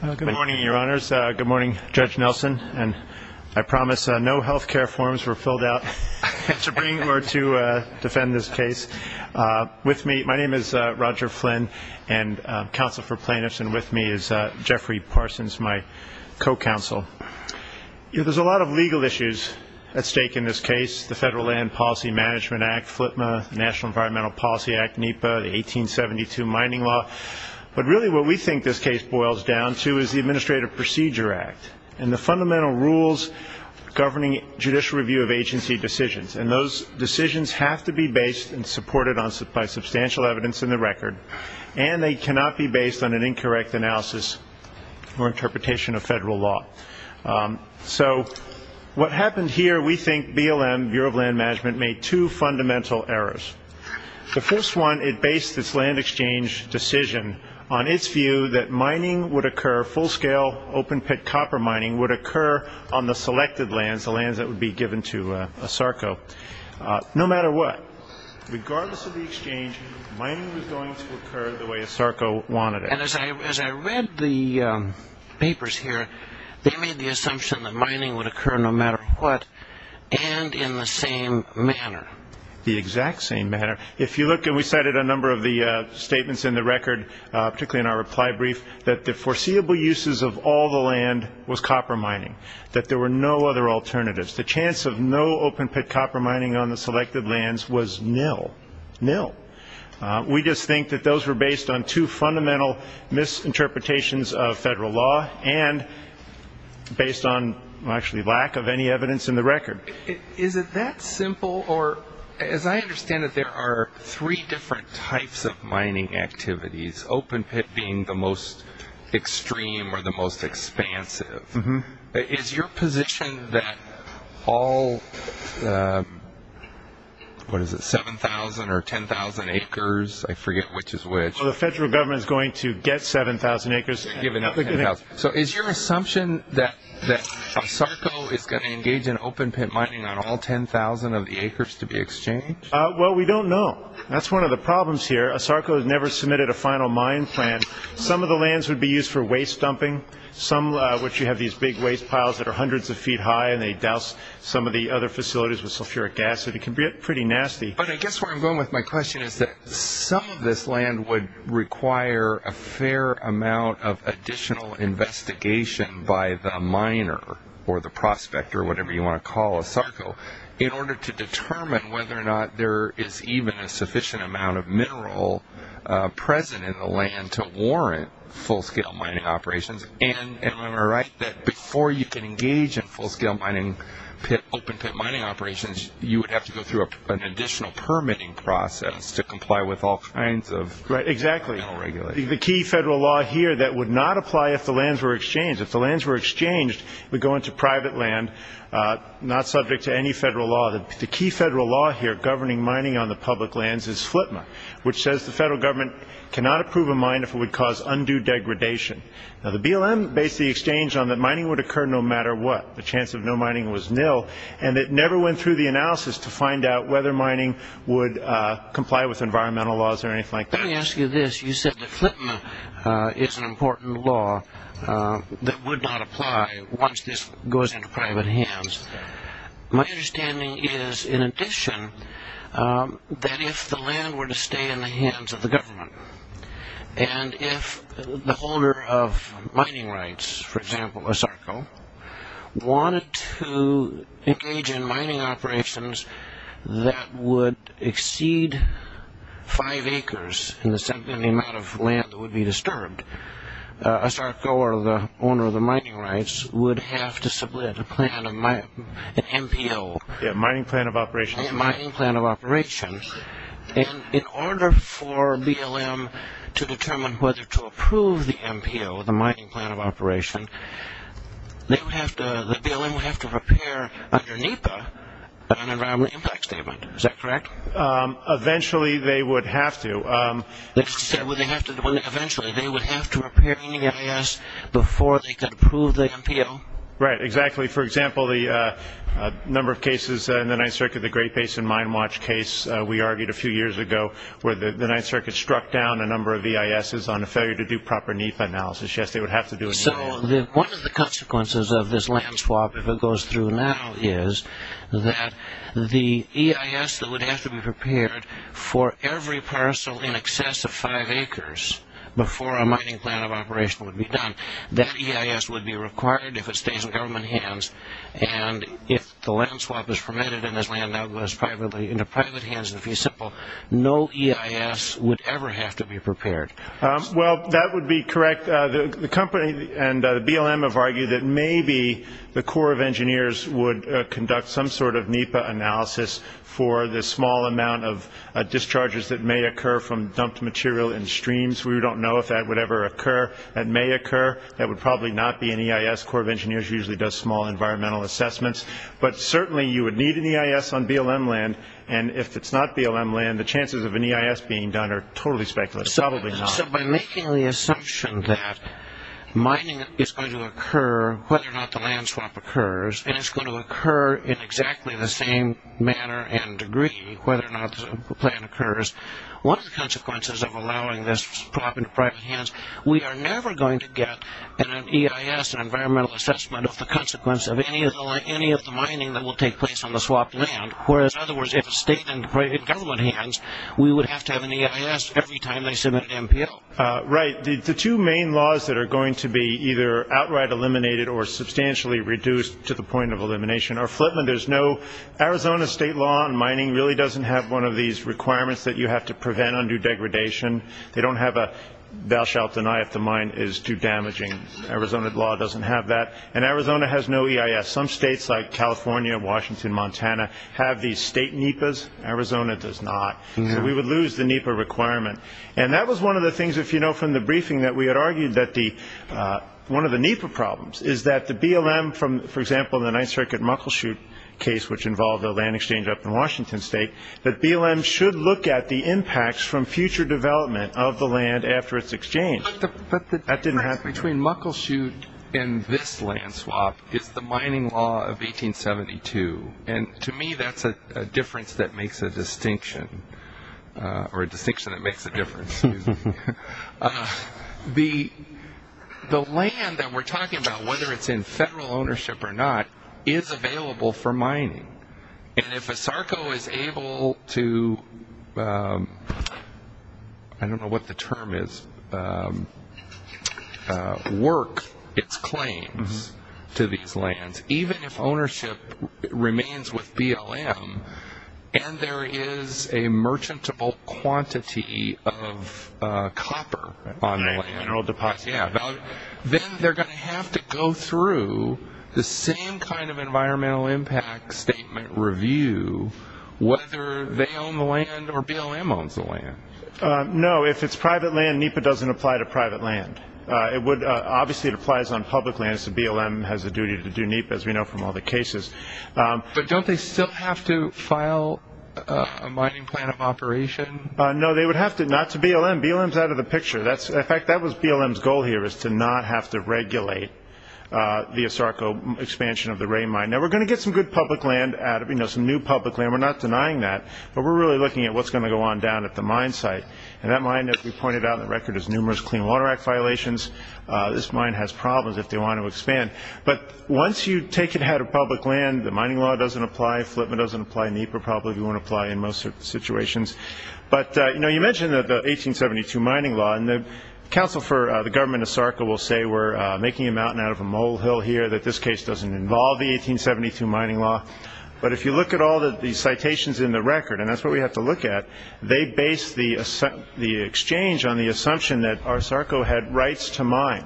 Good morning, your honors. Good morning, Judge Nelson. I promise no health care forms were filled out to bring or to defend this case. With me, my name is Roger Flynn, and counsel for plaintiffs, and with me is Jeffrey Parsons, my co-counsel. There's a lot of legal issues at stake in this case, the Federal Land Policy Management Act, FLPMA, the National Environmental Policy Act, NEPA, the 1872 Mining Law. But really what we think this case boils down to is the Administrative Procedure Act and the fundamental rules governing judicial review of agency decisions. And those decisions have to be based and supported by substantial evidence in the record, and they cannot be based on an incorrect analysis or interpretation of federal law. So what happened here, we think BLM, Bureau of Land Management, made two fundamental errors. The first one, it based its land exchange decision on its view that mining would occur, full-scale open-pit copper mining would occur on the selected lands, the lands that would be given to ASARCO, no matter what. Regardless of the exchange, mining was going to occur the way ASARCO wanted it. And as I read the papers here, they made the assumption that mining would occur no matter what and in the same manner. The exact same manner. If you look, and we cited a number of the statements in the record, particularly in our reply brief, that the foreseeable uses of all the land was copper mining, that there were no other alternatives. The chance of no open-pit copper mining on the selected lands was nil, nil. We just think that those were based on two fundamental misinterpretations of federal law and based on actually lack of any evidence in the record. Is it that simple, or as I understand it, there are three different types of mining activities, open-pit being the most extreme or the most expansive. Is your position that all, what is it, 7,000 or 10,000 acres, I forget which is which. The federal government is going to get 7,000 acres. So is your assumption that ASARCO is going to engage in open-pit mining on all 10,000 of the acres to be exchanged? Well, we don't know. That's one of the problems here. ASARCO has never submitted a final mine plan. Some of the lands would be used for waste dumping, which you have these big waste piles that are hundreds of feet high and they douse some of the other facilities with sulfuric acid. It can be pretty nasty. But I guess where I'm going with my question is that some of this land would require a fair amount of additional investigation by the miner or the prospector, whatever you want to call ASARCO, in order to determine whether or not there is even a sufficient amount of mineral present in the land to warrant full-scale mining operations. And am I right that before you can engage in full-scale mining, open-pit mining operations, you would have to go through an additional permitting process to comply with all kinds of mineral regulations? Right, exactly. The key federal law here that would not apply if the lands were exchanged. If the lands were exchanged, it would go into private land, not subject to any federal law. The key federal law here governing mining on the public lands is FLTMA, which says the federal government cannot approve a mine if it would cause undue degradation. Now, the BLM based the exchange on that mining would occur no matter what. The chance of no mining was nil, and it never went through the analysis to find out whether mining would comply with environmental laws or anything like that. Let me ask you this. You said that FLTMA is an important law that would not apply once this goes into private hands. My understanding is, in addition, that if the land were to stay in the hands of the government, and if the owner of mining rights, for example, ASARCO, wanted to engage in mining operations that would exceed five acres in the amount of land that would be disturbed, ASARCO or the owner of the mining rights would have to submit a plan, an MPO. A mining plan of operation. A mining plan of operation. And in order for BLM to determine whether to approve the MPO, the mining plan of operation, the BLM would have to prepare under NEPA an environmental impact statement. Is that correct? Eventually, they would have to. You said, eventually, they would have to prepare in the EIS before they could approve the MPO? Right, exactly. For example, the number of cases in the Ninth Circuit, the Great Basin Mine Watch case, we argued a few years ago where the Ninth Circuit struck down a number of EISs on a failure to do proper NEPA analysis. Yes, they would have to do it. So one of the consequences of this land swap, if it goes through now, is that the EIS that would have to be prepared for every parcel in excess of five acres before a mining plan of operation would be done, that EIS would be required if it stays in government hands. And if the land swap is permitted and this land now goes into private hands, to be simple, no EIS would ever have to be prepared. Well, that would be correct. The company and the BLM have argued that maybe the Corps of Engineers would conduct some sort of NEPA analysis for the small amount of discharges that may occur from dumped material in streams. We don't know if that would ever occur. That may occur. That would probably not be an EIS. Corps of Engineers usually does small environmental assessments. But certainly you would need an EIS on BLM land, and if it's not BLM land, the chances of an EIS being done are totally speculative. Probably not. So by making the assumption that mining is going to occur whether or not the land swap occurs and it's going to occur in exactly the same manner and degree whether or not the plan occurs, what are the consequences of allowing this to happen in private hands? We are never going to get an EIS, an environmental assessment, of the consequence of any of the mining that will take place on the swapped land. Whereas, in other words, if it stayed in private government hands, we would have to have an EIS every time they submitted an NPO. Right. The two main laws that are going to be either outright eliminated or substantially reduced to the point of elimination are Flipman. Arizona state law on mining really doesn't have one of these requirements that you have to prevent undue degradation. They don't have a thou shalt deny if the mine is too damaging. Arizona law doesn't have that. And Arizona has no EIS. Some states like California, Washington, Montana have these state NEPAs. Arizona does not. So we would lose the NEPA requirement. And that was one of the things, if you know from the briefing, that we had argued that one of the NEPA problems is that the BLM, for example, in the Ninth Circuit Muckleshoot case, which involved a land exchange up in Washington state, that BLM should look at the impacts from future development of the land after its exchange. But the difference between Muckleshoot and this land swap is the mining law of 1872. And to me, that's a difference that makes a distinction, or a distinction that makes a difference. The land that we're talking about, whether it's in federal ownership or not, is available for mining. And if ASARCO is able to, I don't know what the term is, work its claims to these lands, even if ownership remains with BLM and there is a merchantable quantity of copper on the land, then they're going to have to go through the same kind of environmental impact statement review whether they own the land or BLM owns the land. No, if it's private land, NEPA doesn't apply to private land. Obviously it applies on public lands, so BLM has a duty to do NEPA, as we know from all the cases. But don't they still have to file a mining plan of operation? No, they would have to, not to BLM. BLM is out of the picture. In fact, that was BLM's goal here, is to not have to regulate the ASARCO expansion of the Ray Mine. Now, we're going to get some good public land out of it, some new public land. We're not denying that, but we're really looking at what's going to go on down at the mine site. And that mine, as we pointed out on the record, has numerous Clean Water Act violations. This mine has problems if they want to expand. But once you take it out of public land, the mining law doesn't apply, FLPMA doesn't apply, NEPA probably won't apply in most situations. But, you know, you mentioned the 1872 mining law, and the council for the government of ASARCO will say we're making a mountain out of a molehill here, that this case doesn't involve the 1872 mining law. But if you look at all the citations in the record, and that's what we have to look at, they base the exchange on the assumption that ASARCO had rights to mine.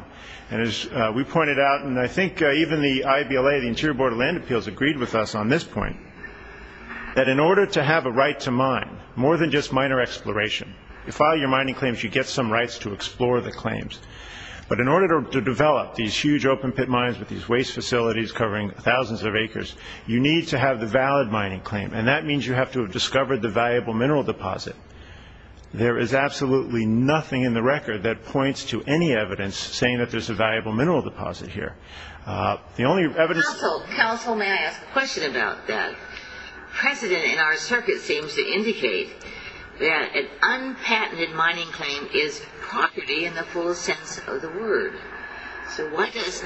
And as we pointed out, and I think even the IBLA, the Interior Board of Land Appeals, agreed with us on this point, that in order to have a right to mine, more than just minor exploration, you file your mining claims, you get some rights to explore the claims. But in order to develop these huge open pit mines with these waste facilities covering thousands of acres, you need to have the valid mining claim. And that means you have to have discovered the valuable mineral deposit. There is absolutely nothing in the record that points to any evidence saying that there's a valuable mineral deposit here. The only evidence... Council, may I ask a question about that? President in our circuit seems to indicate that an unpatented mining claim is property in the full sense of the word. So why does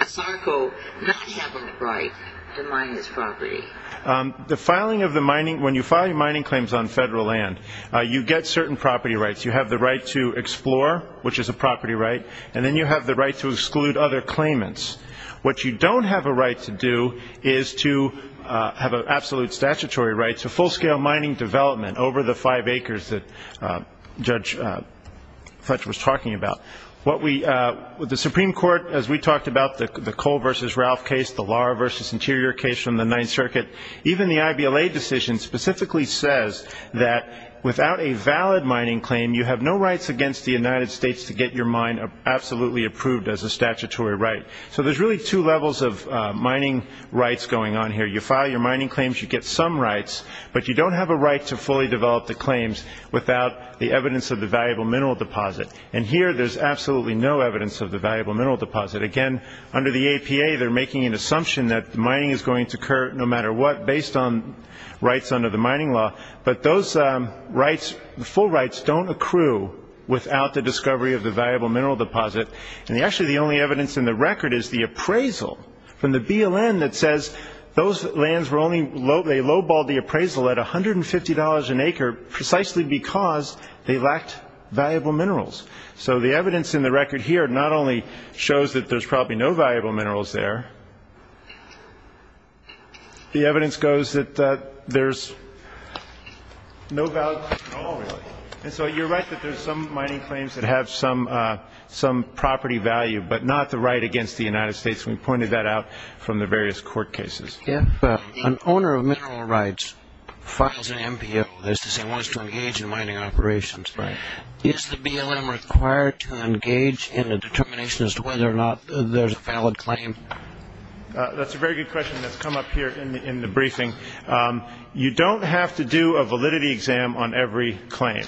ASARCO not have a right to mine this property? The filing of the mining... When you file your mining claims on federal land, you get certain property rights. You have the right to explore, which is a property right, and then you have the right to exclude other claimants. What you don't have a right to do is to have an absolute statutory right to full-scale mining development over the five acres that Judge Fudge was talking about. The Supreme Court, as we talked about, the Cole v. Ralph case, the Lara v. Interior case from the Ninth Circuit, even the I.B.L.A. decision specifically says that without a valid mining claim, you have no rights against the United States to get your mine absolutely approved as a statutory right. So there's really two levels of mining rights going on here. You file your mining claims, you get some rights, but you don't have a right to fully develop the claims without the evidence of the valuable mineral deposit. And here there's absolutely no evidence of the valuable mineral deposit. Again, under the APA, they're making an assumption that mining is going to occur no matter what based on rights under the mining law, but those rights, the full rights, don't accrue without the discovery of the valuable mineral deposit. And actually the only evidence in the record is the appraisal from the BLN that says those lands were only, they low-balled the appraisal at $150 an acre precisely because they lacked valuable minerals. So the evidence in the record here not only shows that there's probably no valuable minerals there, the evidence goes that there's no value at all really. And so you're right that there's some mining claims that have some property value, but not the right against the United States. We pointed that out from the various court cases. If an owner of mineral rights files an MPO, that is to say wants to engage in mining operations, is the BLM required to engage in a determination as to whether or not there's a valid claim? That's a very good question that's come up here in the briefing. You don't have to do a validity exam on every claim.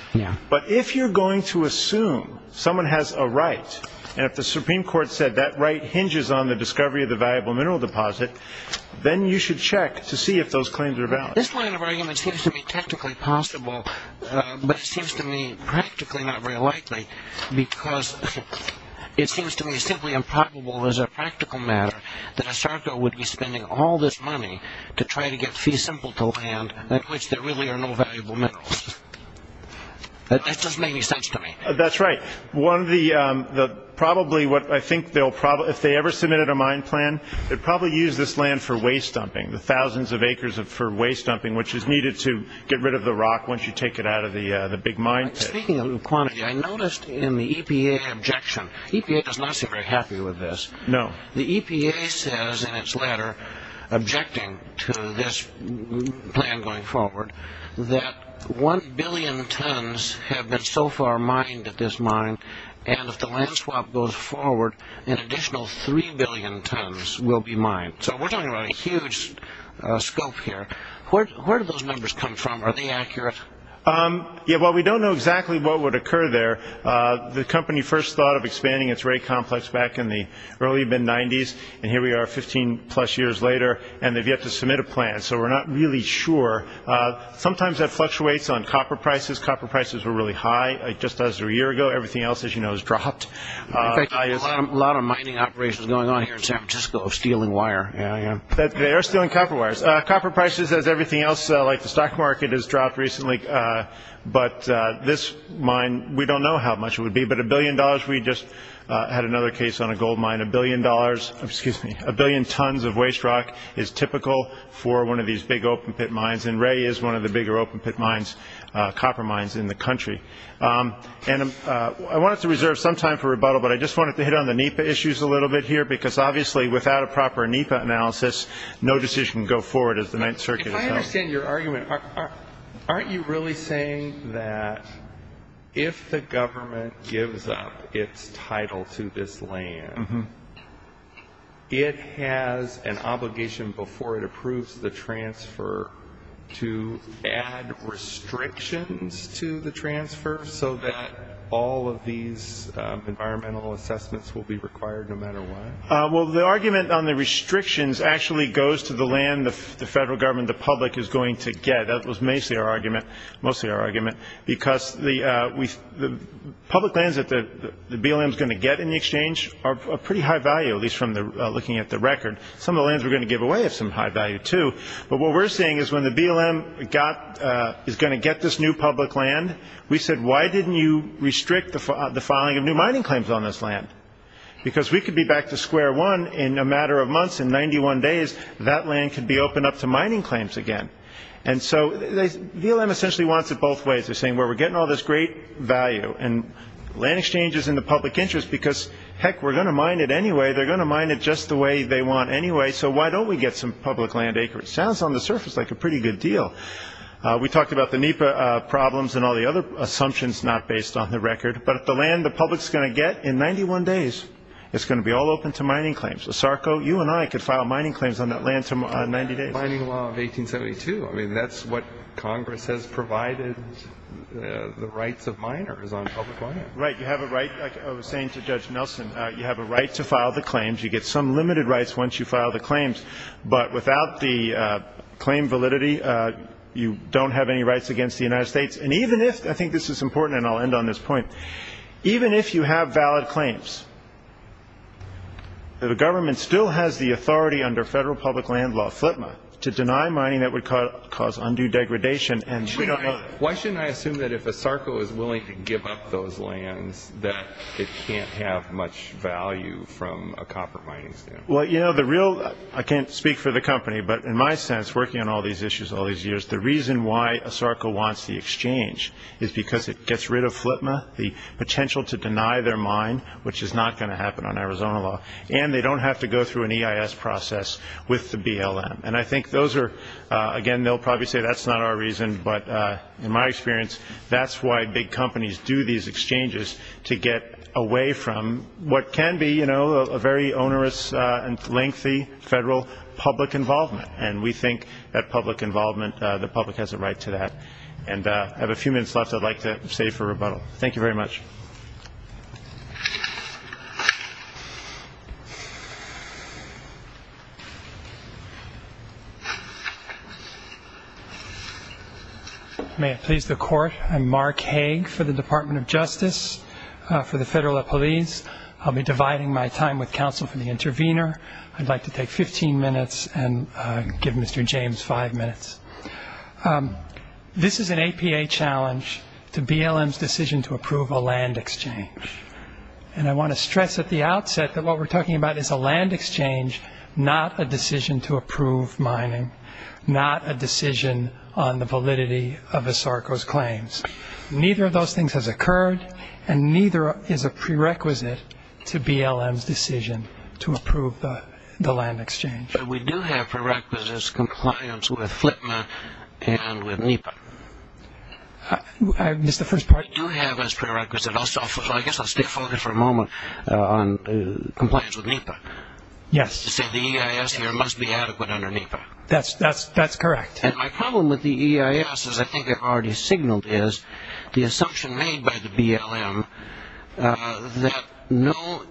But if you're going to assume someone has a right, and if the Supreme Court said that right hinges on the discovery of the valuable mineral deposit, then you should check to see if those claims are valid. This line of argument seems to me technically possible, but it seems to me practically not very likely because it seems to me simply improbable as a practical matter that a SARCO would be spending all this money to try to get fee simple to land at which there really are no valuable minerals. That doesn't make any sense to me. That's right. One of the probably what I think they'll probably, if they ever submitted a mine plan, they'd probably use this land for waste dumping, the thousands of acres for waste dumping, which is needed to get rid of the rock once you take it out of the big mine pit. Speaking of quantity, I noticed in the EPA objection, EPA does not seem very happy with this. No. The EPA says in its letter objecting to this plan going forward that one billion tons have been so far mined at this mine, and if the land swap goes forward, an additional three billion tons will be mined. So we're talking about a huge scope here. Where do those numbers come from? Are they accurate? Yeah, well, we don't know exactly what would occur there. The company first thought of expanding its rate complex back in the early mid-'90s, and here we are 15-plus years later, and they've yet to submit a plan, so we're not really sure. Sometimes that fluctuates on copper prices. Copper prices were really high just as a year ago. Everything else, as you know, has dropped. There's a lot of mining operations going on here in San Francisco of stealing wire. Yeah, they are stealing copper wires. Copper prices, as everything else, like the stock market, has dropped recently. But this mine, we don't know how much it would be, but a billion dollars. We just had another case on a gold mine. A billion tons of waste rock is typical for one of these big open-pit mines, and Ray is one of the bigger open-pit mines, copper mines, in the country. And I wanted to reserve some time for rebuttal, but I just wanted to hit on the NEPA issues a little bit here because, obviously, without a proper NEPA analysis, no decision can go forward as the Ninth Circuit has done. If I understand your argument, aren't you really saying that if the government gives up its title to this land, it has an obligation before it approves the transfer to add restrictions to the transfer so that all of these environmental assessments will be required no matter what? Well, the argument on the restrictions actually goes to the land the federal government, the public, is going to get. That was mostly our argument because the public lands that the BLM is going to get in the exchange are of pretty high value, at least looking at the record. Some of the lands we're going to give away have some high value, too. But what we're saying is when the BLM is going to get this new public land, we said, why didn't you restrict the filing of new mining claims on this land? Because we could be back to square one in a matter of months, in 91 days, that land could be opened up to mining claims again. And so BLM essentially wants it both ways. They're saying, well, we're getting all this great value, and land exchange is in the public interest because, heck, we're going to mine it anyway. They're going to mine it just the way they want anyway, so why don't we get some public land acreage? It sounds on the surface like a pretty good deal. We talked about the NEPA problems and all the other assumptions not based on the record. But the land the public is going to get in 91 days is going to be all open to mining claims. OSARCO, you and I could file mining claims on that land in 90 days. I mean, that's what Congress has provided, the rights of miners on public land. Right, you have a right, like I was saying to Judge Nelson, you have a right to file the claims. You get some limited rights once you file the claims. But without the claim validity, you don't have any rights against the United States. And even if, I think this is important, and I'll end on this point, even if you have valid claims, the government still has the authority under federal public land law, FLTMA, to deny mining that would cause undue degradation. Why shouldn't I assume that if OSARCO is willing to give up those lands, that it can't have much value from a copper mining standpoint? Well, you know, I can't speak for the company, but in my sense, working on all these issues all these years, the reason why OSARCO wants the exchange is because it gets rid of FLTMA, the potential to deny their mine, which is not going to happen on Arizona law, and they don't have to go through an EIS process with the BLM. And I think those are, again, they'll probably say that's not our reason, but in my experience, that's why big companies do these exchanges to get away from what can be, you know, a very onerous and lengthy federal public involvement. And we think that public involvement, the public has a right to that. And I have a few minutes left I'd like to save for rebuttal. Thank you very much. May it please the Court, I'm Mark Hague for the Department of Justice for the Federal Police. I'll be dividing my time with counsel from the intervener. I'd like to take 15 minutes and give Mr. James five minutes. This is an APA challenge to BLM's decision to approve a land exchange. And I want to stress at the outset that what we're talking about is a land exchange, not a decision to approve mining, not a decision on the validity of OSARCO's claims. Neither of those things has occurred, and neither is a prerequisite to BLM's decision to approve the land exchange. But we do have prerequisites compliance with FLIPMA and with NEPA. I missed the first part. We do have as prerequisite, I guess I'll stay focused for a moment, on compliance with NEPA. Yes. To say the EIS here must be adequate under NEPA. That's correct. And my problem with the EIS, as I think I've already signaled, is the assumption made by the BLM that no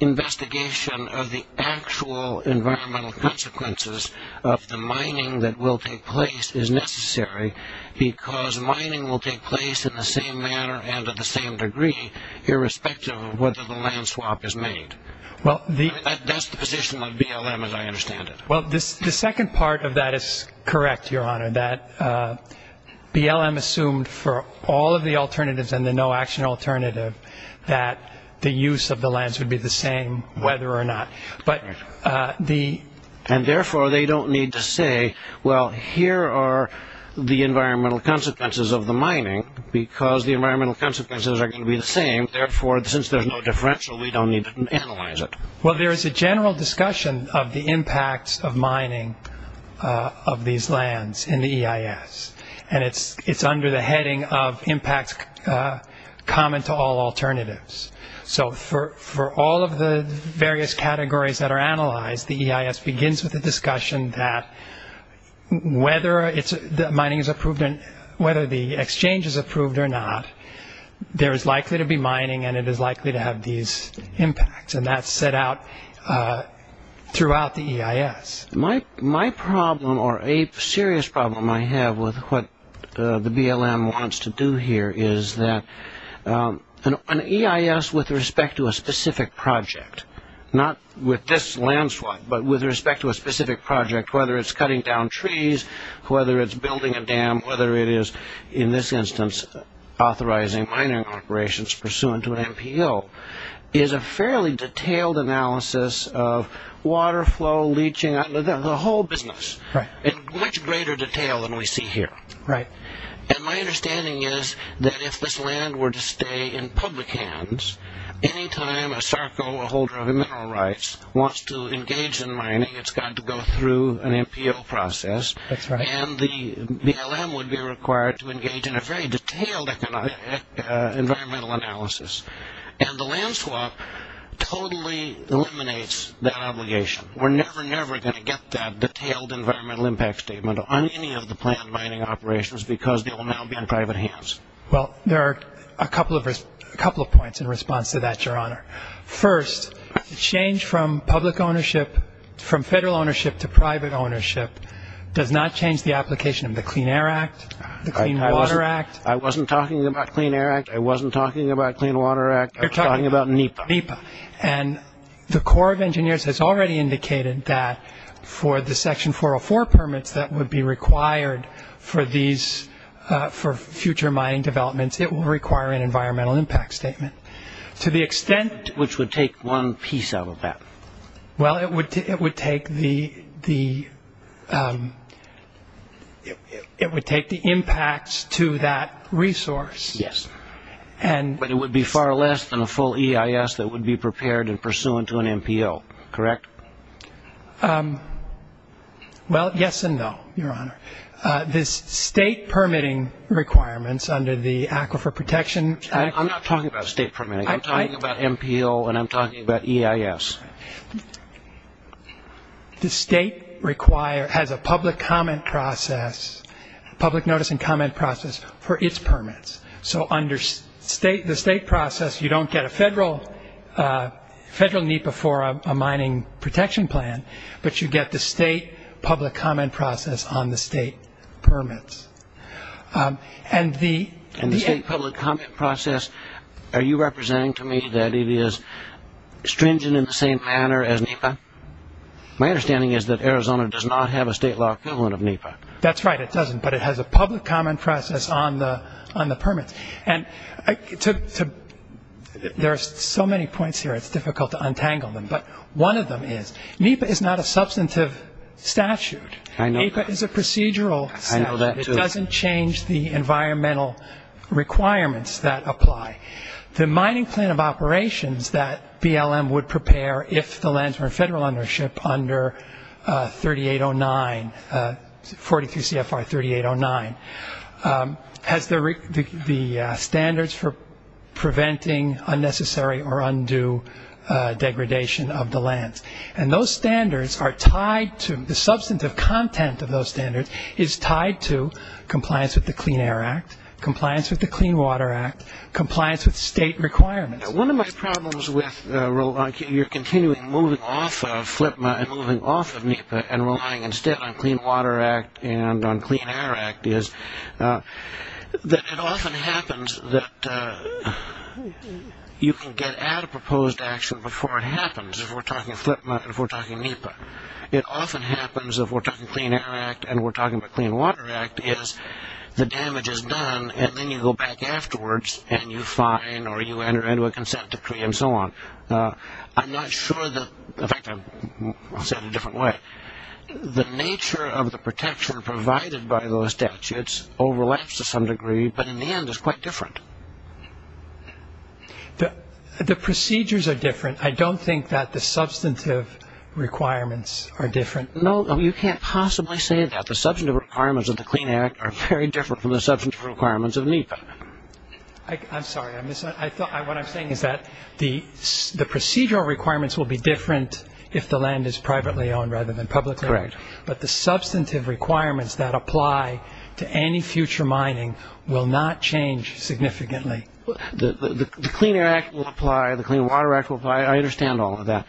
investigation of the actual environmental consequences of the mining that will take place is necessary, because mining will take place in the same manner and to the same degree, irrespective of whether the land swap is made. That's the position of BLM as I understand it. Well, the second part of that is correct, Your Honor, that BLM assumed for all of the alternatives and the no-action alternative that the use of the lands would be the same whether or not. And, therefore, they don't need to say, well, here are the environmental consequences of the mining because the environmental consequences are going to be the same. Therefore, since there's no differential, we don't need to analyze it. Well, there is a general discussion of the impacts of mining of these lands in the EIS, and it's under the heading of impacts common to all alternatives. So for all of the various categories that are analyzed, the EIS begins with the discussion that whether the exchange is approved or not, there is likely to be mining and it is likely to have these impacts, and that's set out throughout the EIS. My problem or a serious problem I have with what the BLM wants to do here is that an EIS with respect to a specific project, not with this land swap, but with respect to a specific project, whether it's cutting down trees, whether it's building a dam, whether it is, in this instance, authorizing mining operations pursuant to an MPO, is a fairly detailed analysis of water flow, leaching, the whole business, in much greater detail than we see here. And my understanding is that if this land were to stay in public hands, any time a SARCO, a holder of mineral rights, wants to engage in mining, it's got to go through an MPO process, and the BLM would be required to engage in a very detailed environmental analysis. And the land swap totally eliminates that obligation. We're never, never going to get that detailed environmental impact statement on any of the planned mining operations because they will now be in private hands. Well, there are a couple of points in response to that, Your Honor. First, the change from public ownership, from federal ownership to private ownership, does not change the application of the Clean Air Act, the Clean Water Act. I wasn't talking about Clean Air Act. I wasn't talking about Clean Water Act. You're talking about NEPA. NEPA. And the Corps of Engineers has already indicated that for the Section 404 permits that would be required for these, for future mining developments, it will require an environmental impact statement. To the extent... Which would take one piece out of that. Well, it would take the impacts to that resource. Yes. But it would be far less than a full EIS that would be prepared and pursuant to an MPO, correct? Well, yes and no, Your Honor. The state permitting requirements under the Aquifer Protection Act... I'm not talking about state permitting. I'm talking about MPO and I'm talking about EIS. The state has a public comment process, public notice and comment process, for its permits. So under the state process, you don't get a federal NEPA for a mining protection plan, but you get the state public comment process on the state permits. And the state public comment process, are you representing to me that it is stringent in the same manner as NEPA? My understanding is that Arizona does not have a state law equivalent of NEPA. That's right, it doesn't. But it has a public comment process on the permits. And there are so many points here, it's difficult to untangle them. But one of them is NEPA is not a substantive statute. I know that. NEPA is a procedural statute. I know that too. It doesn't change the environmental requirements that apply. The mining plan of operations that BLM would prepare if the lands were in federal ownership under 3809, 43 CFR 3809, has the standards for preventing unnecessary or undue degradation of the lands. And those standards are tied to, the substantive content of those standards is tied to compliance with the Clean Air Act, compliance with the Clean Water Act, compliance with state requirements. One of my problems with your continuing moving off of FLIPMA and moving off of NEPA and relying instead on Clean Water Act and on Clean Air Act is that it often happens that you can get before it happens if we're talking FLIPMA and if we're talking NEPA. It often happens if we're talking Clean Air Act and we're talking about Clean Water Act, is the damage is done and then you go back afterwards and you fine or you enter into a consent decree and so on. I'm not sure that, in fact, I'll say it a different way. The nature of the protection provided by those statutes overlaps to some degree, but in the end it's quite different. The procedures are different. I don't think that the substantive requirements are different. No, you can't possibly say that. The substantive requirements of the Clean Air Act are very different from the substantive requirements of NEPA. I'm sorry. What I'm saying is that the procedural requirements will be different if the land is privately owned rather than publicly owned. Correct. But the substantive requirements that apply to any future mining will not change significantly. The Clean Air Act will apply. The Clean Water Act will apply. I understand all of that.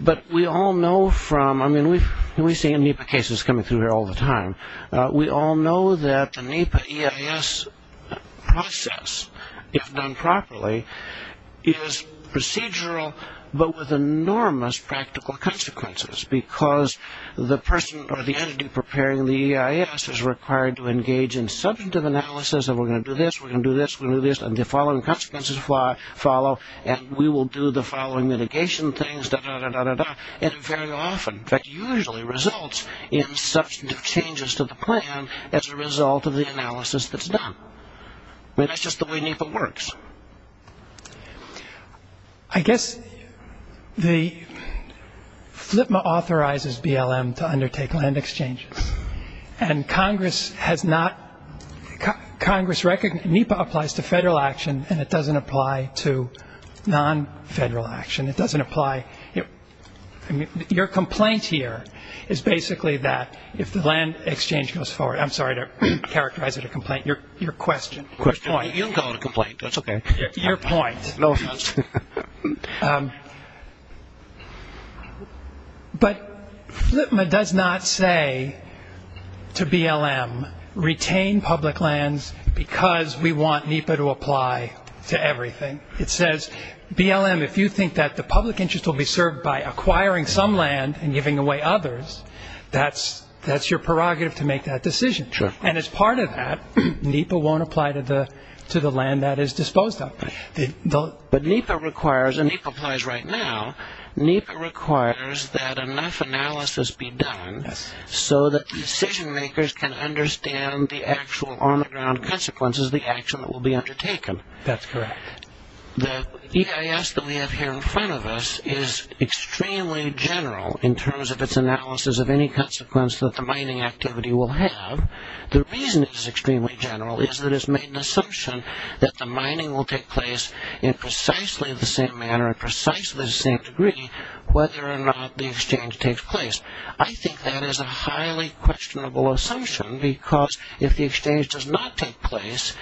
But we all know from, I mean, we see NEPA cases coming through here all the time. We all know that the NEPA EIS process, if done properly, is procedural but with enormous practical consequences because the person or the entity preparing the EIS is required to engage in substantive analysis and we're going to do this, we're going to do this, we're going to do this, and the following consequences follow, and we will do the following mitigation things, da-da-da-da-da-da, and very often that usually results in substantive changes to the plan as a result of the analysis that's done. I mean, that's just the way NEPA works. I guess the FLPMA authorizes BLM to undertake land exchanges, and Congress has not, Congress, NEPA applies to federal action and it doesn't apply to non-federal action. It doesn't apply, I mean, your complaint here is basically that if the land exchange goes forward, I'm sorry to characterize it a complaint, your question, your point. You don't call it a complaint. That's okay. Your point. But FLPMA does not say to BLM, retain public lands because we want NEPA to apply to everything. It says, BLM, if you think that the public interest will be served by acquiring some land and giving away others, that's your prerogative to make that decision. And as part of that, NEPA won't apply to the land that is disposed of. But NEPA requires, and NEPA applies right now, NEPA requires that enough analysis be done so that the decision makers can understand the actual on-the-ground consequences of the action that will be undertaken. That's correct. The EIS that we have here in front of us is extremely general in terms of its analysis of any consequence that the mining activity will have. The reason it is extremely general is that it's made an assumption that the mining will take place in precisely the same manner and precisely the same degree whether or not the exchange takes place. I think that is a highly questionable assumption because if the exchange does not take place,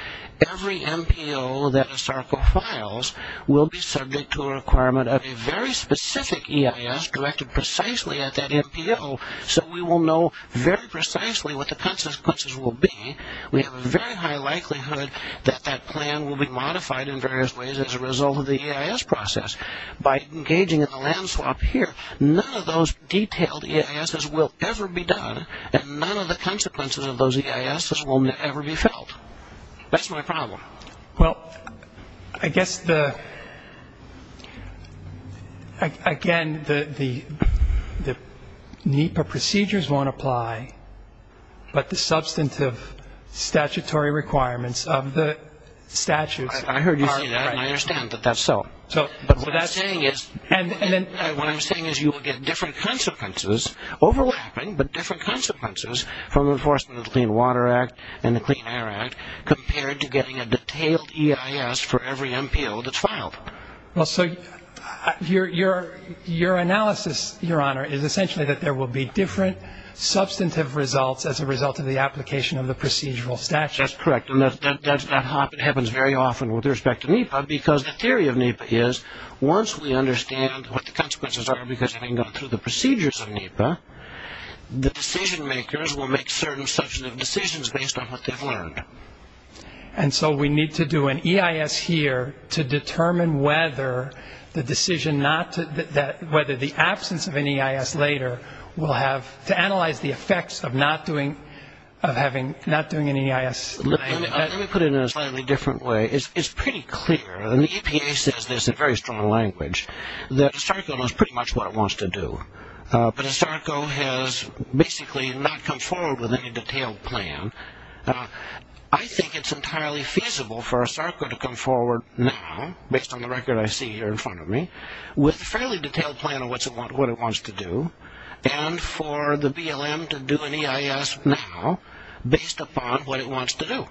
every MPO that ISARCO files will be subject to a requirement of a very specific EIS directed precisely at that MPO so we will know very precisely what the consequences will be. We have a very high likelihood that that plan will be modified in various ways as a result of the EIS process. By engaging in the land swap here, none of those detailed EISs will ever be done and none of the consequences of those EISs will ever be felt. That's my problem. Well, I guess, again, the NEPA procedures won't apply, but the substantive statutory requirements of the statutes are. I heard you say that and I understand that that's so. What I'm saying is you will get different consequences, overlapping, but different consequences from enforcement of the Clean Water Act and the Clean Air Act compared to getting a detailed EIS for every MPO that's filed. Well, so your analysis, Your Honor, is essentially that there will be different substantive results as a result of the application of the procedural statute. That's correct and that happens very often with respect to NEPA because the theory of NEPA is once we understand what the consequences are because having gone through the procedures of NEPA, the decision-makers will make certain substantive decisions based on what they've learned. And so we need to do an EIS here to determine whether the decision not to, whether the absence of an EIS later will have, to analyze the effects of not doing an EIS. Let me put it in a slightly different way. It's pretty clear, and the EPA says this in very strong language, that ISARCO knows pretty much what it wants to do, but ISARCO has basically not come forward with any detailed plan. I think it's entirely feasible for ISARCO to come forward now, based on the record I see here in front of me, with a fairly detailed plan of what it wants to do and for the BLM to do an EIS now based upon what it wants to do.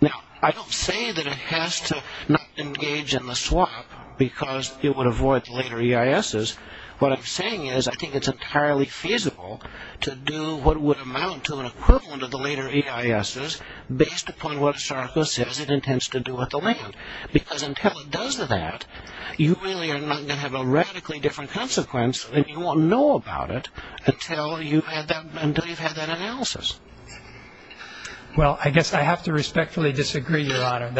Now, I don't say that it has to not engage in the swap because it would avoid later EISs. What I'm saying is I think it's entirely feasible to do what would amount to an equivalent of the later EISs, based upon what ISARCO says it intends to do with the land, because until it does that, you really are not going to have a radically different consequence, and you won't know about it until you've had that analysis. Well, I guess I have to respectfully disagree, Your Honor, and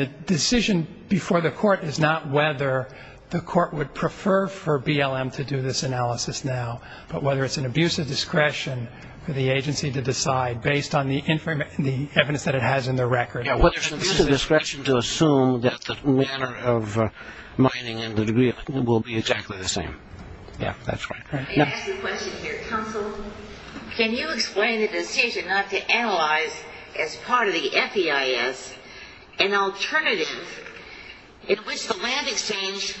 the decision before the court is not whether the court would prefer for BLM to do this analysis now, but whether it's an abuse of discretion for the agency to decide, based on the evidence that it has in the record. It's an abuse of discretion to assume that the manner of mining and the degree of mining will be exactly the same. Yeah, that's right. May I ask a question here, counsel? Can you explain the decision not to analyze, as part of the FEIS, an alternative in which the land exchange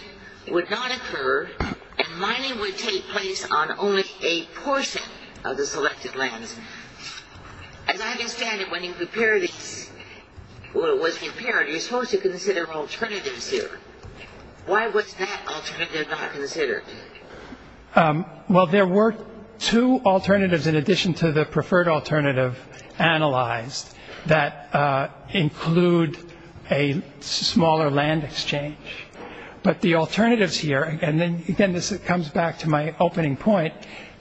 would not occur and mining would take place on only a portion of the selected lands? As I understand it, when it was prepared, you were supposed to consider alternatives here. Why was that alternative not considered? Well, there were two alternatives, in addition to the preferred alternative, analyzed, that include a smaller land exchange. But the alternatives here, and again, this comes back to my opening point,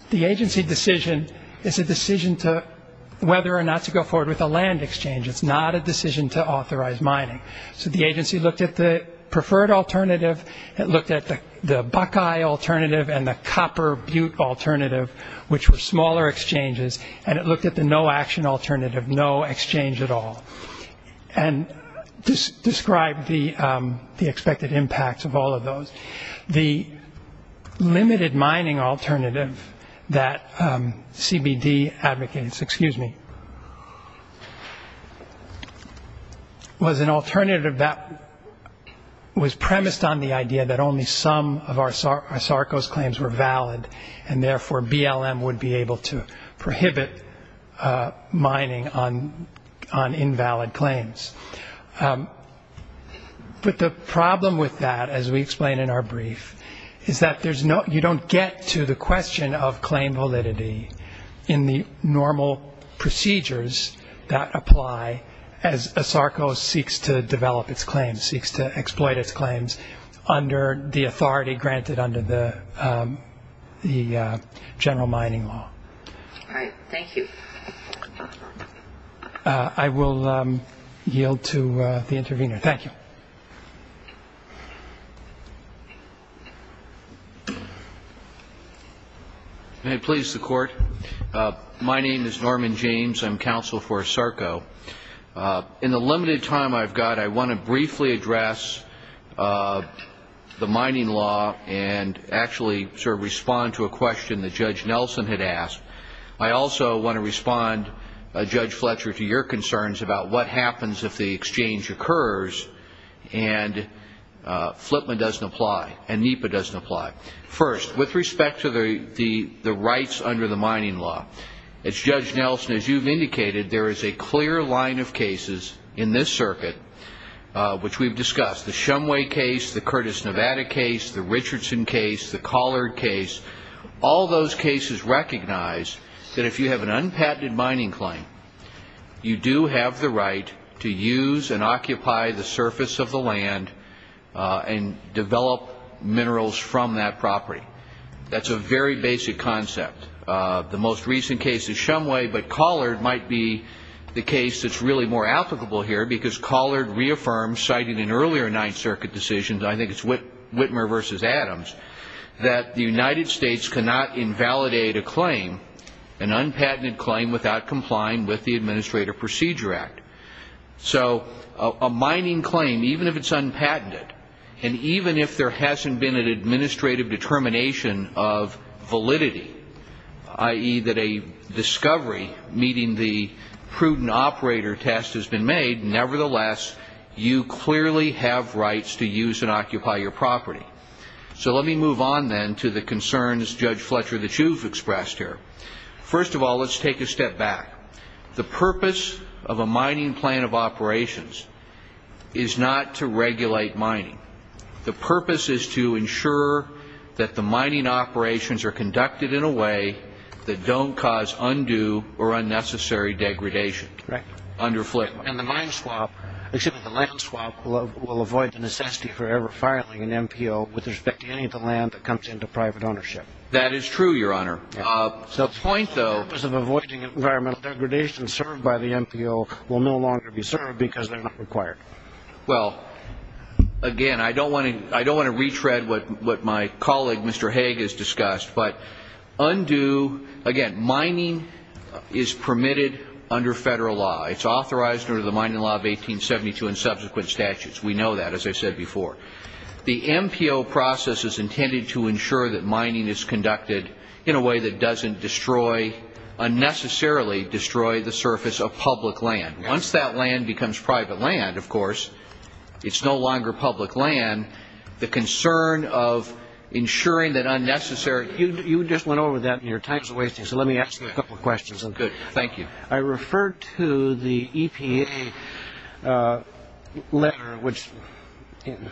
the agency decision is a decision whether or not to go forward with a land exchange. It's not a decision to authorize mining. So the agency looked at the preferred alternative, it looked at the buckeye alternative and the copper-butte alternative, which were smaller exchanges, and it looked at the no-action alternative, no exchange at all, and described the expected impacts of all of those. The limited mining alternative that CBD advocates, excuse me, was an alternative that was premised on the idea that only some of our SARCOS claims were valid, and therefore BLM would be able to prohibit mining on invalid claims. But the problem with that, as we explain in our brief, is that you don't get to the question of claim validity in the normal procedures that apply as a SARCOS seeks to develop its claims, seeks to exploit its claims, under the authority granted under the general mining law. All right. Thank you. I will yield to the intervener. Thank you. May it please the Court? My name is Norman James. I'm counsel for SARCO. In the limited time I've got, I want to briefly address the mining law and actually sort of respond to a question that Judge Nelson had asked. I also want to respond, Judge Fletcher, to your concerns about what happens if the exchange occurs and Flipman doesn't apply and NEPA doesn't apply. First, with respect to the rights under the mining law, as Judge Nelson, as you've indicated, there is a clear line of cases in this circuit, which we've discussed, the Shumway case, the Curtis Nevada case, the Richardson case, the Collard case. All those cases recognize that if you have an unpatented mining claim, you do have the right to use and occupy the surface of the land and develop minerals from that property. That's a very basic concept. The most recent case is Shumway, but Collard might be the case that's really more applicable here because Collard reaffirmed, citing an earlier Ninth Circuit decision, I think it's Whitmer v. Adams, that the United States cannot invalidate a claim, an unpatented claim, without complying with the Administrative Procedure Act. So a mining claim, even if it's unpatented, and even if there hasn't been an administrative determination of validity, i.e. that a discovery meeting the prudent operator test has been made, nevertheless, you clearly have rights to use and occupy your property. So let me move on then to the concerns, Judge Fletcher, that you've expressed here. First of all, let's take a step back. The purpose of a mining plan of operations is not to regulate mining. The purpose is to ensure that the mining operations are conducted in a way that don't cause undue or unnecessary degradation. And the land swap will avoid the necessity for ever filing an MPO with respect to any of the land that comes into private ownership. That is true, Your Honor. The purpose of avoiding environmental degradation served by the MPO will no longer be served because they're not required. Well, again, I don't want to retread what my colleague, Mr. Haig, has discussed, but again, mining is permitted under federal law. It's authorized under the Mining Law of 1872 and subsequent statutes. We know that, as I said before. The MPO process is intended to ensure that mining is conducted in a way that doesn't unnecessarily destroy the surface of public land. Once that land becomes private land, of course, it's no longer public land. And the concern of ensuring that unnecessary— You just went over that, and your time is wasting, so let me ask you a couple of questions. Good. Thank you. I referred to the EPA letter, which,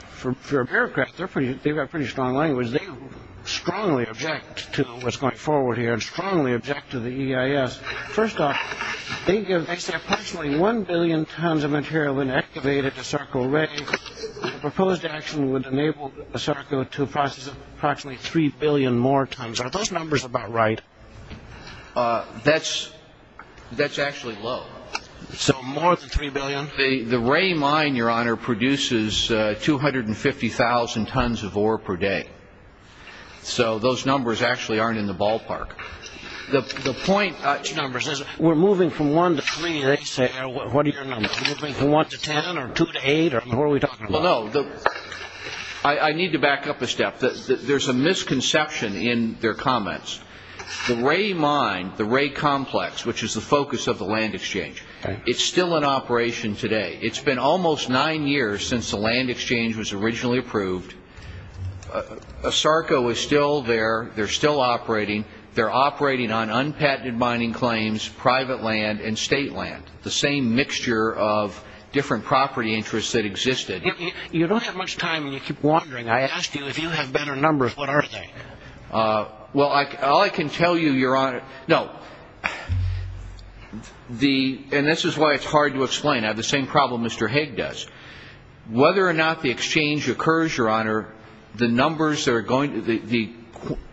for a bureaucrat, they've got pretty strong language. They strongly object to what's going forward here and strongly object to the EIS. First off, they say approximately one billion tons of material have been activated to circle Ray. Proposed action would enable the circle to process approximately three billion more tons. Are those numbers about right? That's actually low. So more than three billion? The Ray mine, Your Honor, produces 250,000 tons of ore per day. So those numbers actually aren't in the ballpark. The point about numbers is we're moving from one to three. What are your numbers? Do you want to ten or two to eight, or what are we talking about? Well, no. I need to back up a step. There's a misconception in their comments. The Ray mine, the Ray complex, which is the focus of the land exchange, it's still in operation today. It's been almost nine years since the land exchange was originally approved. ASARCO is still there. They're still operating. They're operating on unpatented mining claims, private land, and state land, the same mixture of different property interests that existed. You don't have much time, and you keep wandering. I asked you if you have better numbers. What are they? Well, all I can tell you, Your Honor, no. And this is why it's hard to explain. I have the same problem Mr. Haig does. Whether or not the exchange occurs, Your Honor, the tonnages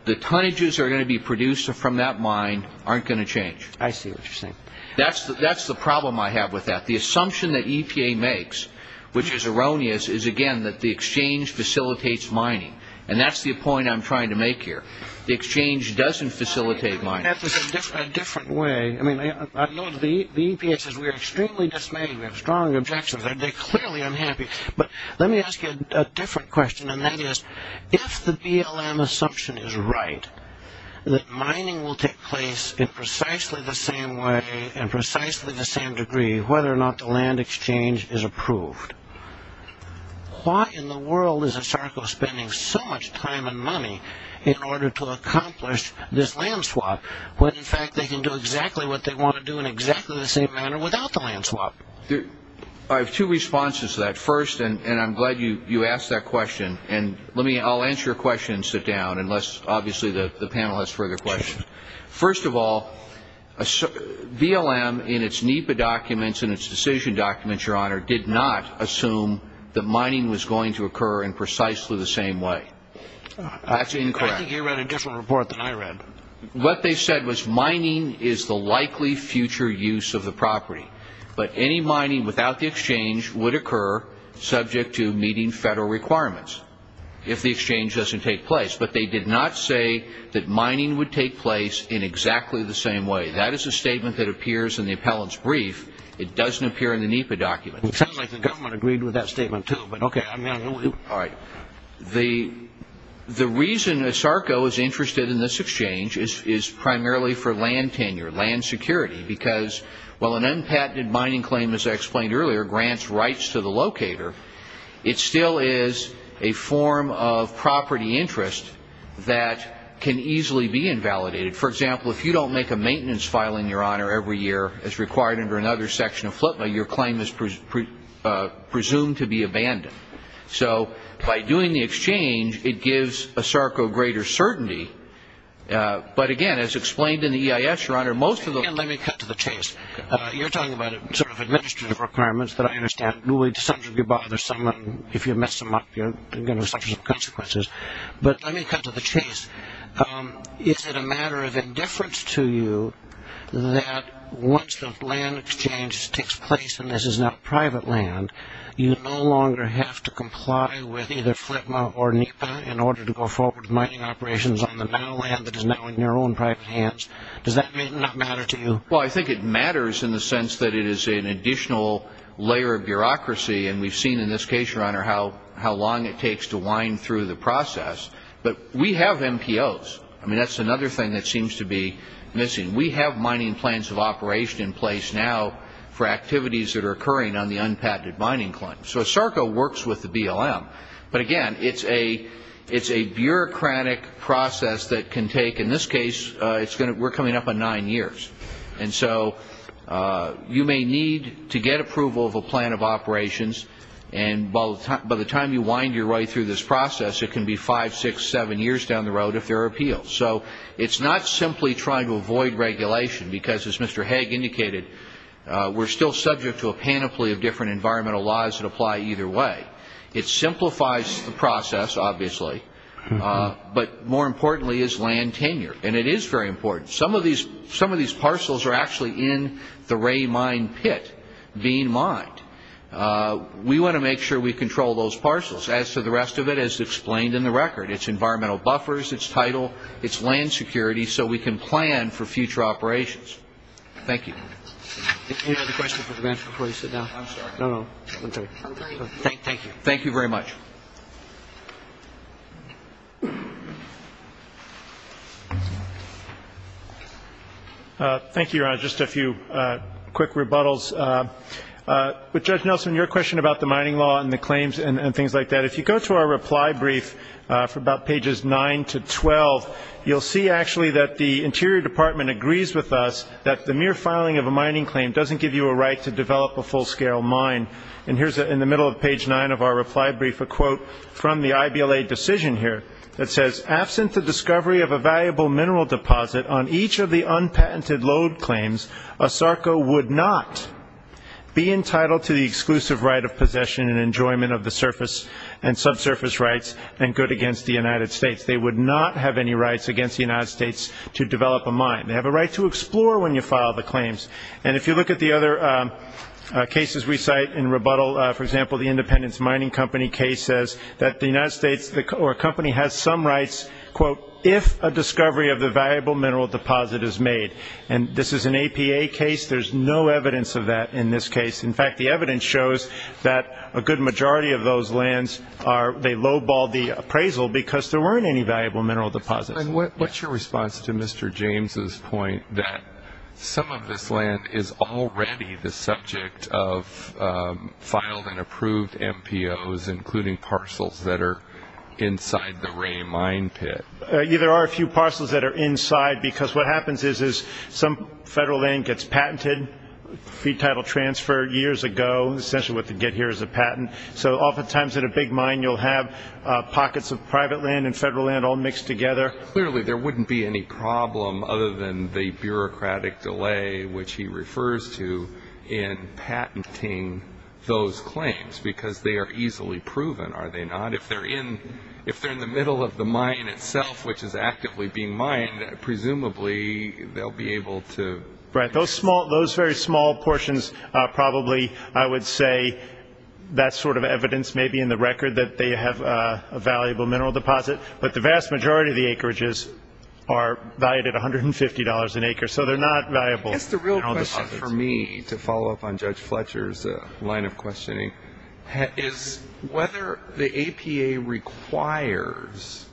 that are going to be produced from that mine aren't going to change. I see what you're saying. That's the problem I have with that. The assumption that EPA makes, which is erroneous, is again that the exchange facilitates mining, and that's the point I'm trying to make here. The exchange doesn't facilitate mining. That's a different way. I know the EPA says we're extremely dismayed. We have strong objections. They're clearly unhappy. But let me ask you a different question, and that is if the BLM assumption is right, that mining will take place in precisely the same way and precisely the same degree whether or not the land exchange is approved, why in the world is a SARCO spending so much time and money in order to accomplish this land swap when in fact they can do exactly what they want to do in exactly the same manner without the land swap? I have two responses to that. First, and I'm glad you asked that question, and I'll answer your question and sit down unless obviously the panel has further questions. First of all, BLM in its NEPA documents and its decision documents, Your Honor, did not assume that mining was going to occur in precisely the same way. That's incorrect. I think you read a different report than I read. What they said was mining is the likely future use of the property, but any mining without the exchange would occur subject to meeting federal requirements if the exchange doesn't take place. But they did not say that mining would take place in exactly the same way. That is a statement that appears in the appellant's brief. It doesn't appear in the NEPA document. It sounds like the government agreed with that statement too, but okay. All right. The reason a SARCO is interested in this exchange is primarily for land tenure, land security, because while an unpatented mining claim, as I explained earlier, grants rights to the locator, it still is a form of property interest that can easily be invalidated. For example, if you don't make a maintenance file in your honor every year as required under another section of FLPA, your claim is presumed to be abandoned. So by doing the exchange, it gives a SARCO greater certainty. But, again, as explained in the EIS, Your Honor, most of the Let me cut to the chase. You're talking about sort of administrative requirements that I understand. Some of you bother someone. If you mess them up, you're going to suffer some consequences. But let me cut to the chase. Is it a matter of indifference to you that once the land exchange takes place and this is now private land, you no longer have to comply with either FLPA or NEPA in order to go forward with mining operations on the now land that is now in your own private hands? Does that not matter to you? Well, I think it matters in the sense that it is an additional layer of bureaucracy, and we've seen in this case, Your Honor, how long it takes to wind through the process. But we have MPOs. I mean, that's another thing that seems to be missing. We have mining plans of operation in place now for activities that are occurring on the unpatented mining claims. So SARCO works with the BLM. But, again, it's a bureaucratic process that can take, in this case, we're coming up on nine years. And so you may need to get approval of a plan of operations, and by the time you wind your way through this process, it can be five, six, seven years down the road if there are appeals. So it's not simply trying to avoid regulation because, as Mr. Haig indicated, we're still subject to a panoply of different environmental laws that apply either way. It simplifies the process, obviously, but more importantly is land tenure. And it is very important. Some of these parcels are actually in the Ray Mine pit being mined. We want to make sure we control those parcels. As to the rest of it, as explained in the record, it's environmental buffers, it's title, it's land security so we can plan for future operations. Thank you. Any other questions or comments before you sit down? I'm sorry. No, no. Thank you. Thank you very much. Thank you, Your Honor. Just a few quick rebuttals. With Judge Nelson, your question about the mining law and the claims and things like that, if you go to our reply brief for about pages 9 to 12, you'll see actually that the Interior Department agrees with us that the mere filing of a mining claim doesn't give you a right to develop a full-scale mine. And here's in the middle of page 9 of our reply brief a quote from the IBLA decision here that says, absent the discovery of a valuable mineral deposit on each of the unpatented load claims, ASARCO would not be entitled to the exclusive right of possession and enjoyment of the surface and subsurface rights and good against the United States. They would not have any rights against the United States to develop a mine. They have a right to explore when you file the claims. And if you look at the other cases we cite in rebuttal, for example, the Independence Mining Company case says that the United States or a company has some rights, quote, if a discovery of the valuable mineral deposit is made. And this is an APA case. There's no evidence of that in this case. In fact, the evidence shows that a good majority of those lands are, they low-balled the appraisal because there weren't any valuable mineral deposits. And what's your response to Mr. James' point that some of this land is already the subject of filed and approved MPOs, including parcels that are inside the Ray mine pit? There are a few parcels that are inside because what happens is some federal land gets patented, free title transfer years ago, essentially what they get here is a patent. So oftentimes at a big mine you'll have pockets of private land and federal land all mixed together. Clearly there wouldn't be any problem other than the bureaucratic delay, which he refers to in patenting those claims because they are easily proven, are they not? If they're in the middle of the mine itself, which is actively being mined, presumably they'll be able to. Right. Those very small portions probably, I would say, that sort of evidence may be in the record that they have a valuable mineral deposit. But the vast majority of the acreages are valued at $150 an acre, so they're not valuable mineral deposits. I guess the real question for me, to follow up on Judge Fletcher's line of questioning, is whether the APA requires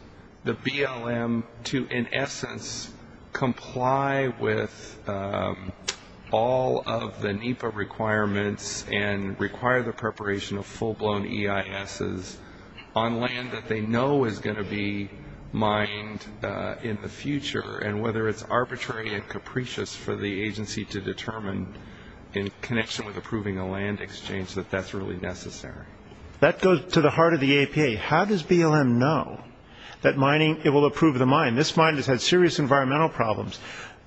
the BLM to, in essence, comply with all of the NEPA requirements and require the preparation of full-blown EISs on land that they know is going to be mined in the future, and whether it's arbitrary and capricious for the agency to determine, in connection with approving a land exchange, that that's really necessary. That goes to the heart of the APA. How does BLM know that it will approve the mine? This mine has had serious environmental problems.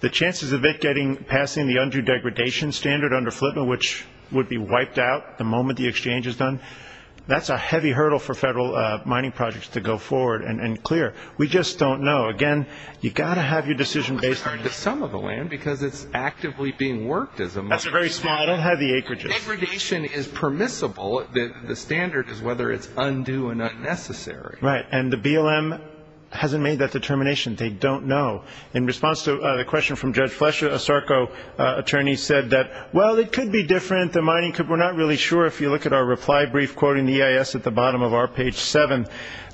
The chances of it passing the undue degradation standard under FLTMA, which would be wiped out the moment the exchange is done, that's a heavy hurdle for federal mining projects to go forward and clear. We just don't know. Again, you've got to have your decision based on the sum of the land, because it's actively being worked as a mine. Degradation is permissible. The standard is whether it's undue or not necessary. Right. And the BLM hasn't made that determination. They don't know. In response to the question from Judge Fletcher, a SARCO attorney said that, well, it could be different. We're not really sure. If you look at our reply brief quoting the EIS at the bottom of our page 7,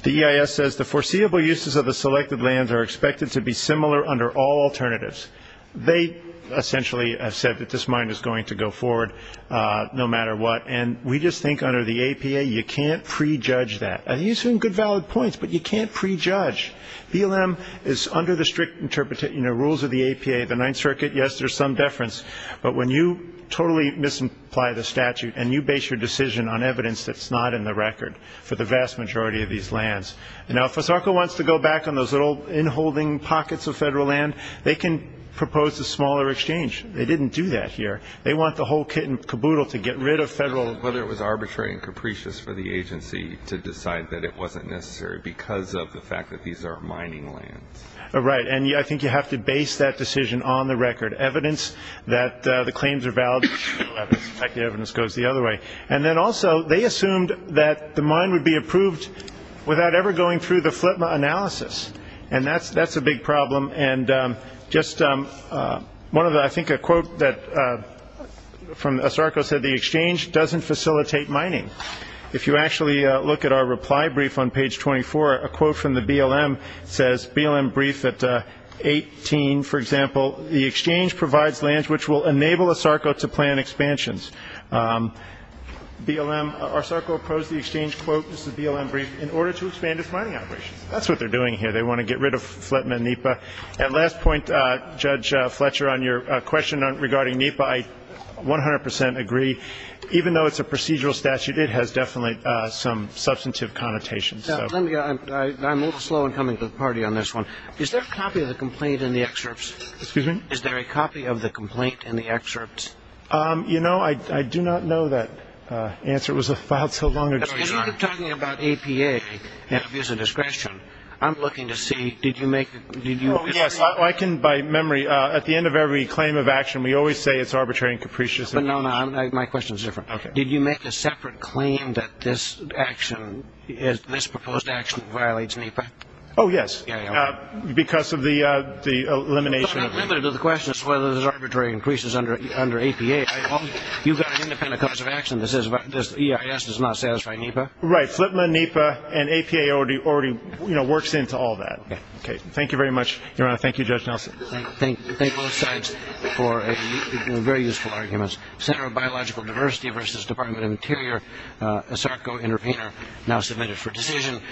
the EIS says, the foreseeable uses of the selected lands are expected to be similar under all alternatives. They essentially have said that this mine is going to go forward no matter what, and we just think under the APA you can't prejudge that. These are good, valid points, but you can't prejudge. BLM is under the strict rules of the APA. The Ninth Circuit, yes, there's some deference, but when you totally misapply the statute and you base your decision on evidence that's not in the record for the vast majority of these lands, and now if a SARCO wants to go back on those little in-holding pockets of federal land, they can propose a smaller exchange. They didn't do that here. They want the whole kit and caboodle to get rid of federal land. But it was arbitrary and capricious for the agency to decide that it wasn't necessary because of the fact that these are mining lands. Right. And I think you have to base that decision on the record, evidence that the claims are valid. In fact, the evidence goes the other way. And then also they assumed that the mine would be approved without ever going through the FLTMA analysis, and that's a big problem. And just one of the, I think a quote from a SARCO said, the exchange doesn't facilitate mining. If you actually look at our reply brief on page 24, a quote from the BLM says, BLM brief at 18, for example, the exchange provides lands which will enable a SARCO to plan expansions. BLM, our SARCO opposed the exchange, quote, this is a BLM brief, in order to expand its mining operations. That's what they're doing here. They want to get rid of FLTMA and NEPA. And last point, Judge Fletcher, on your question regarding NEPA, I 100 percent agree. Even though it's a procedural statute, it has definitely some substantive connotations. I'm a little slow in coming to the party on this one. Is there a copy of the complaint in the excerpts? Excuse me? Is there a copy of the complaint in the excerpts? You know, I do not know that answer. It was a file so long ago. As you were talking about APA and abuse of discretion, I'm looking to see, did you make, did you? Yes, I can, by memory, at the end of every claim of action, we always say it's arbitrary and capricious. No, no, my question is different. Did you make a separate claim that this action, this proposed action violates NEPA? Oh, yes. Because of the elimination of NEPA. The question is whether there's arbitrary increases under APA. You've got an independent cause of action that says this EIS does not satisfy NEPA. Right. FLTMA, NEPA, and APA already works into all that. Okay. Thank you very much. Your Honor, thank you, Judge Nelson. Thank both sides for very useful arguments. Center of Biological Diversity versus Department of Interior, ASARCO intervener now submitted for decision.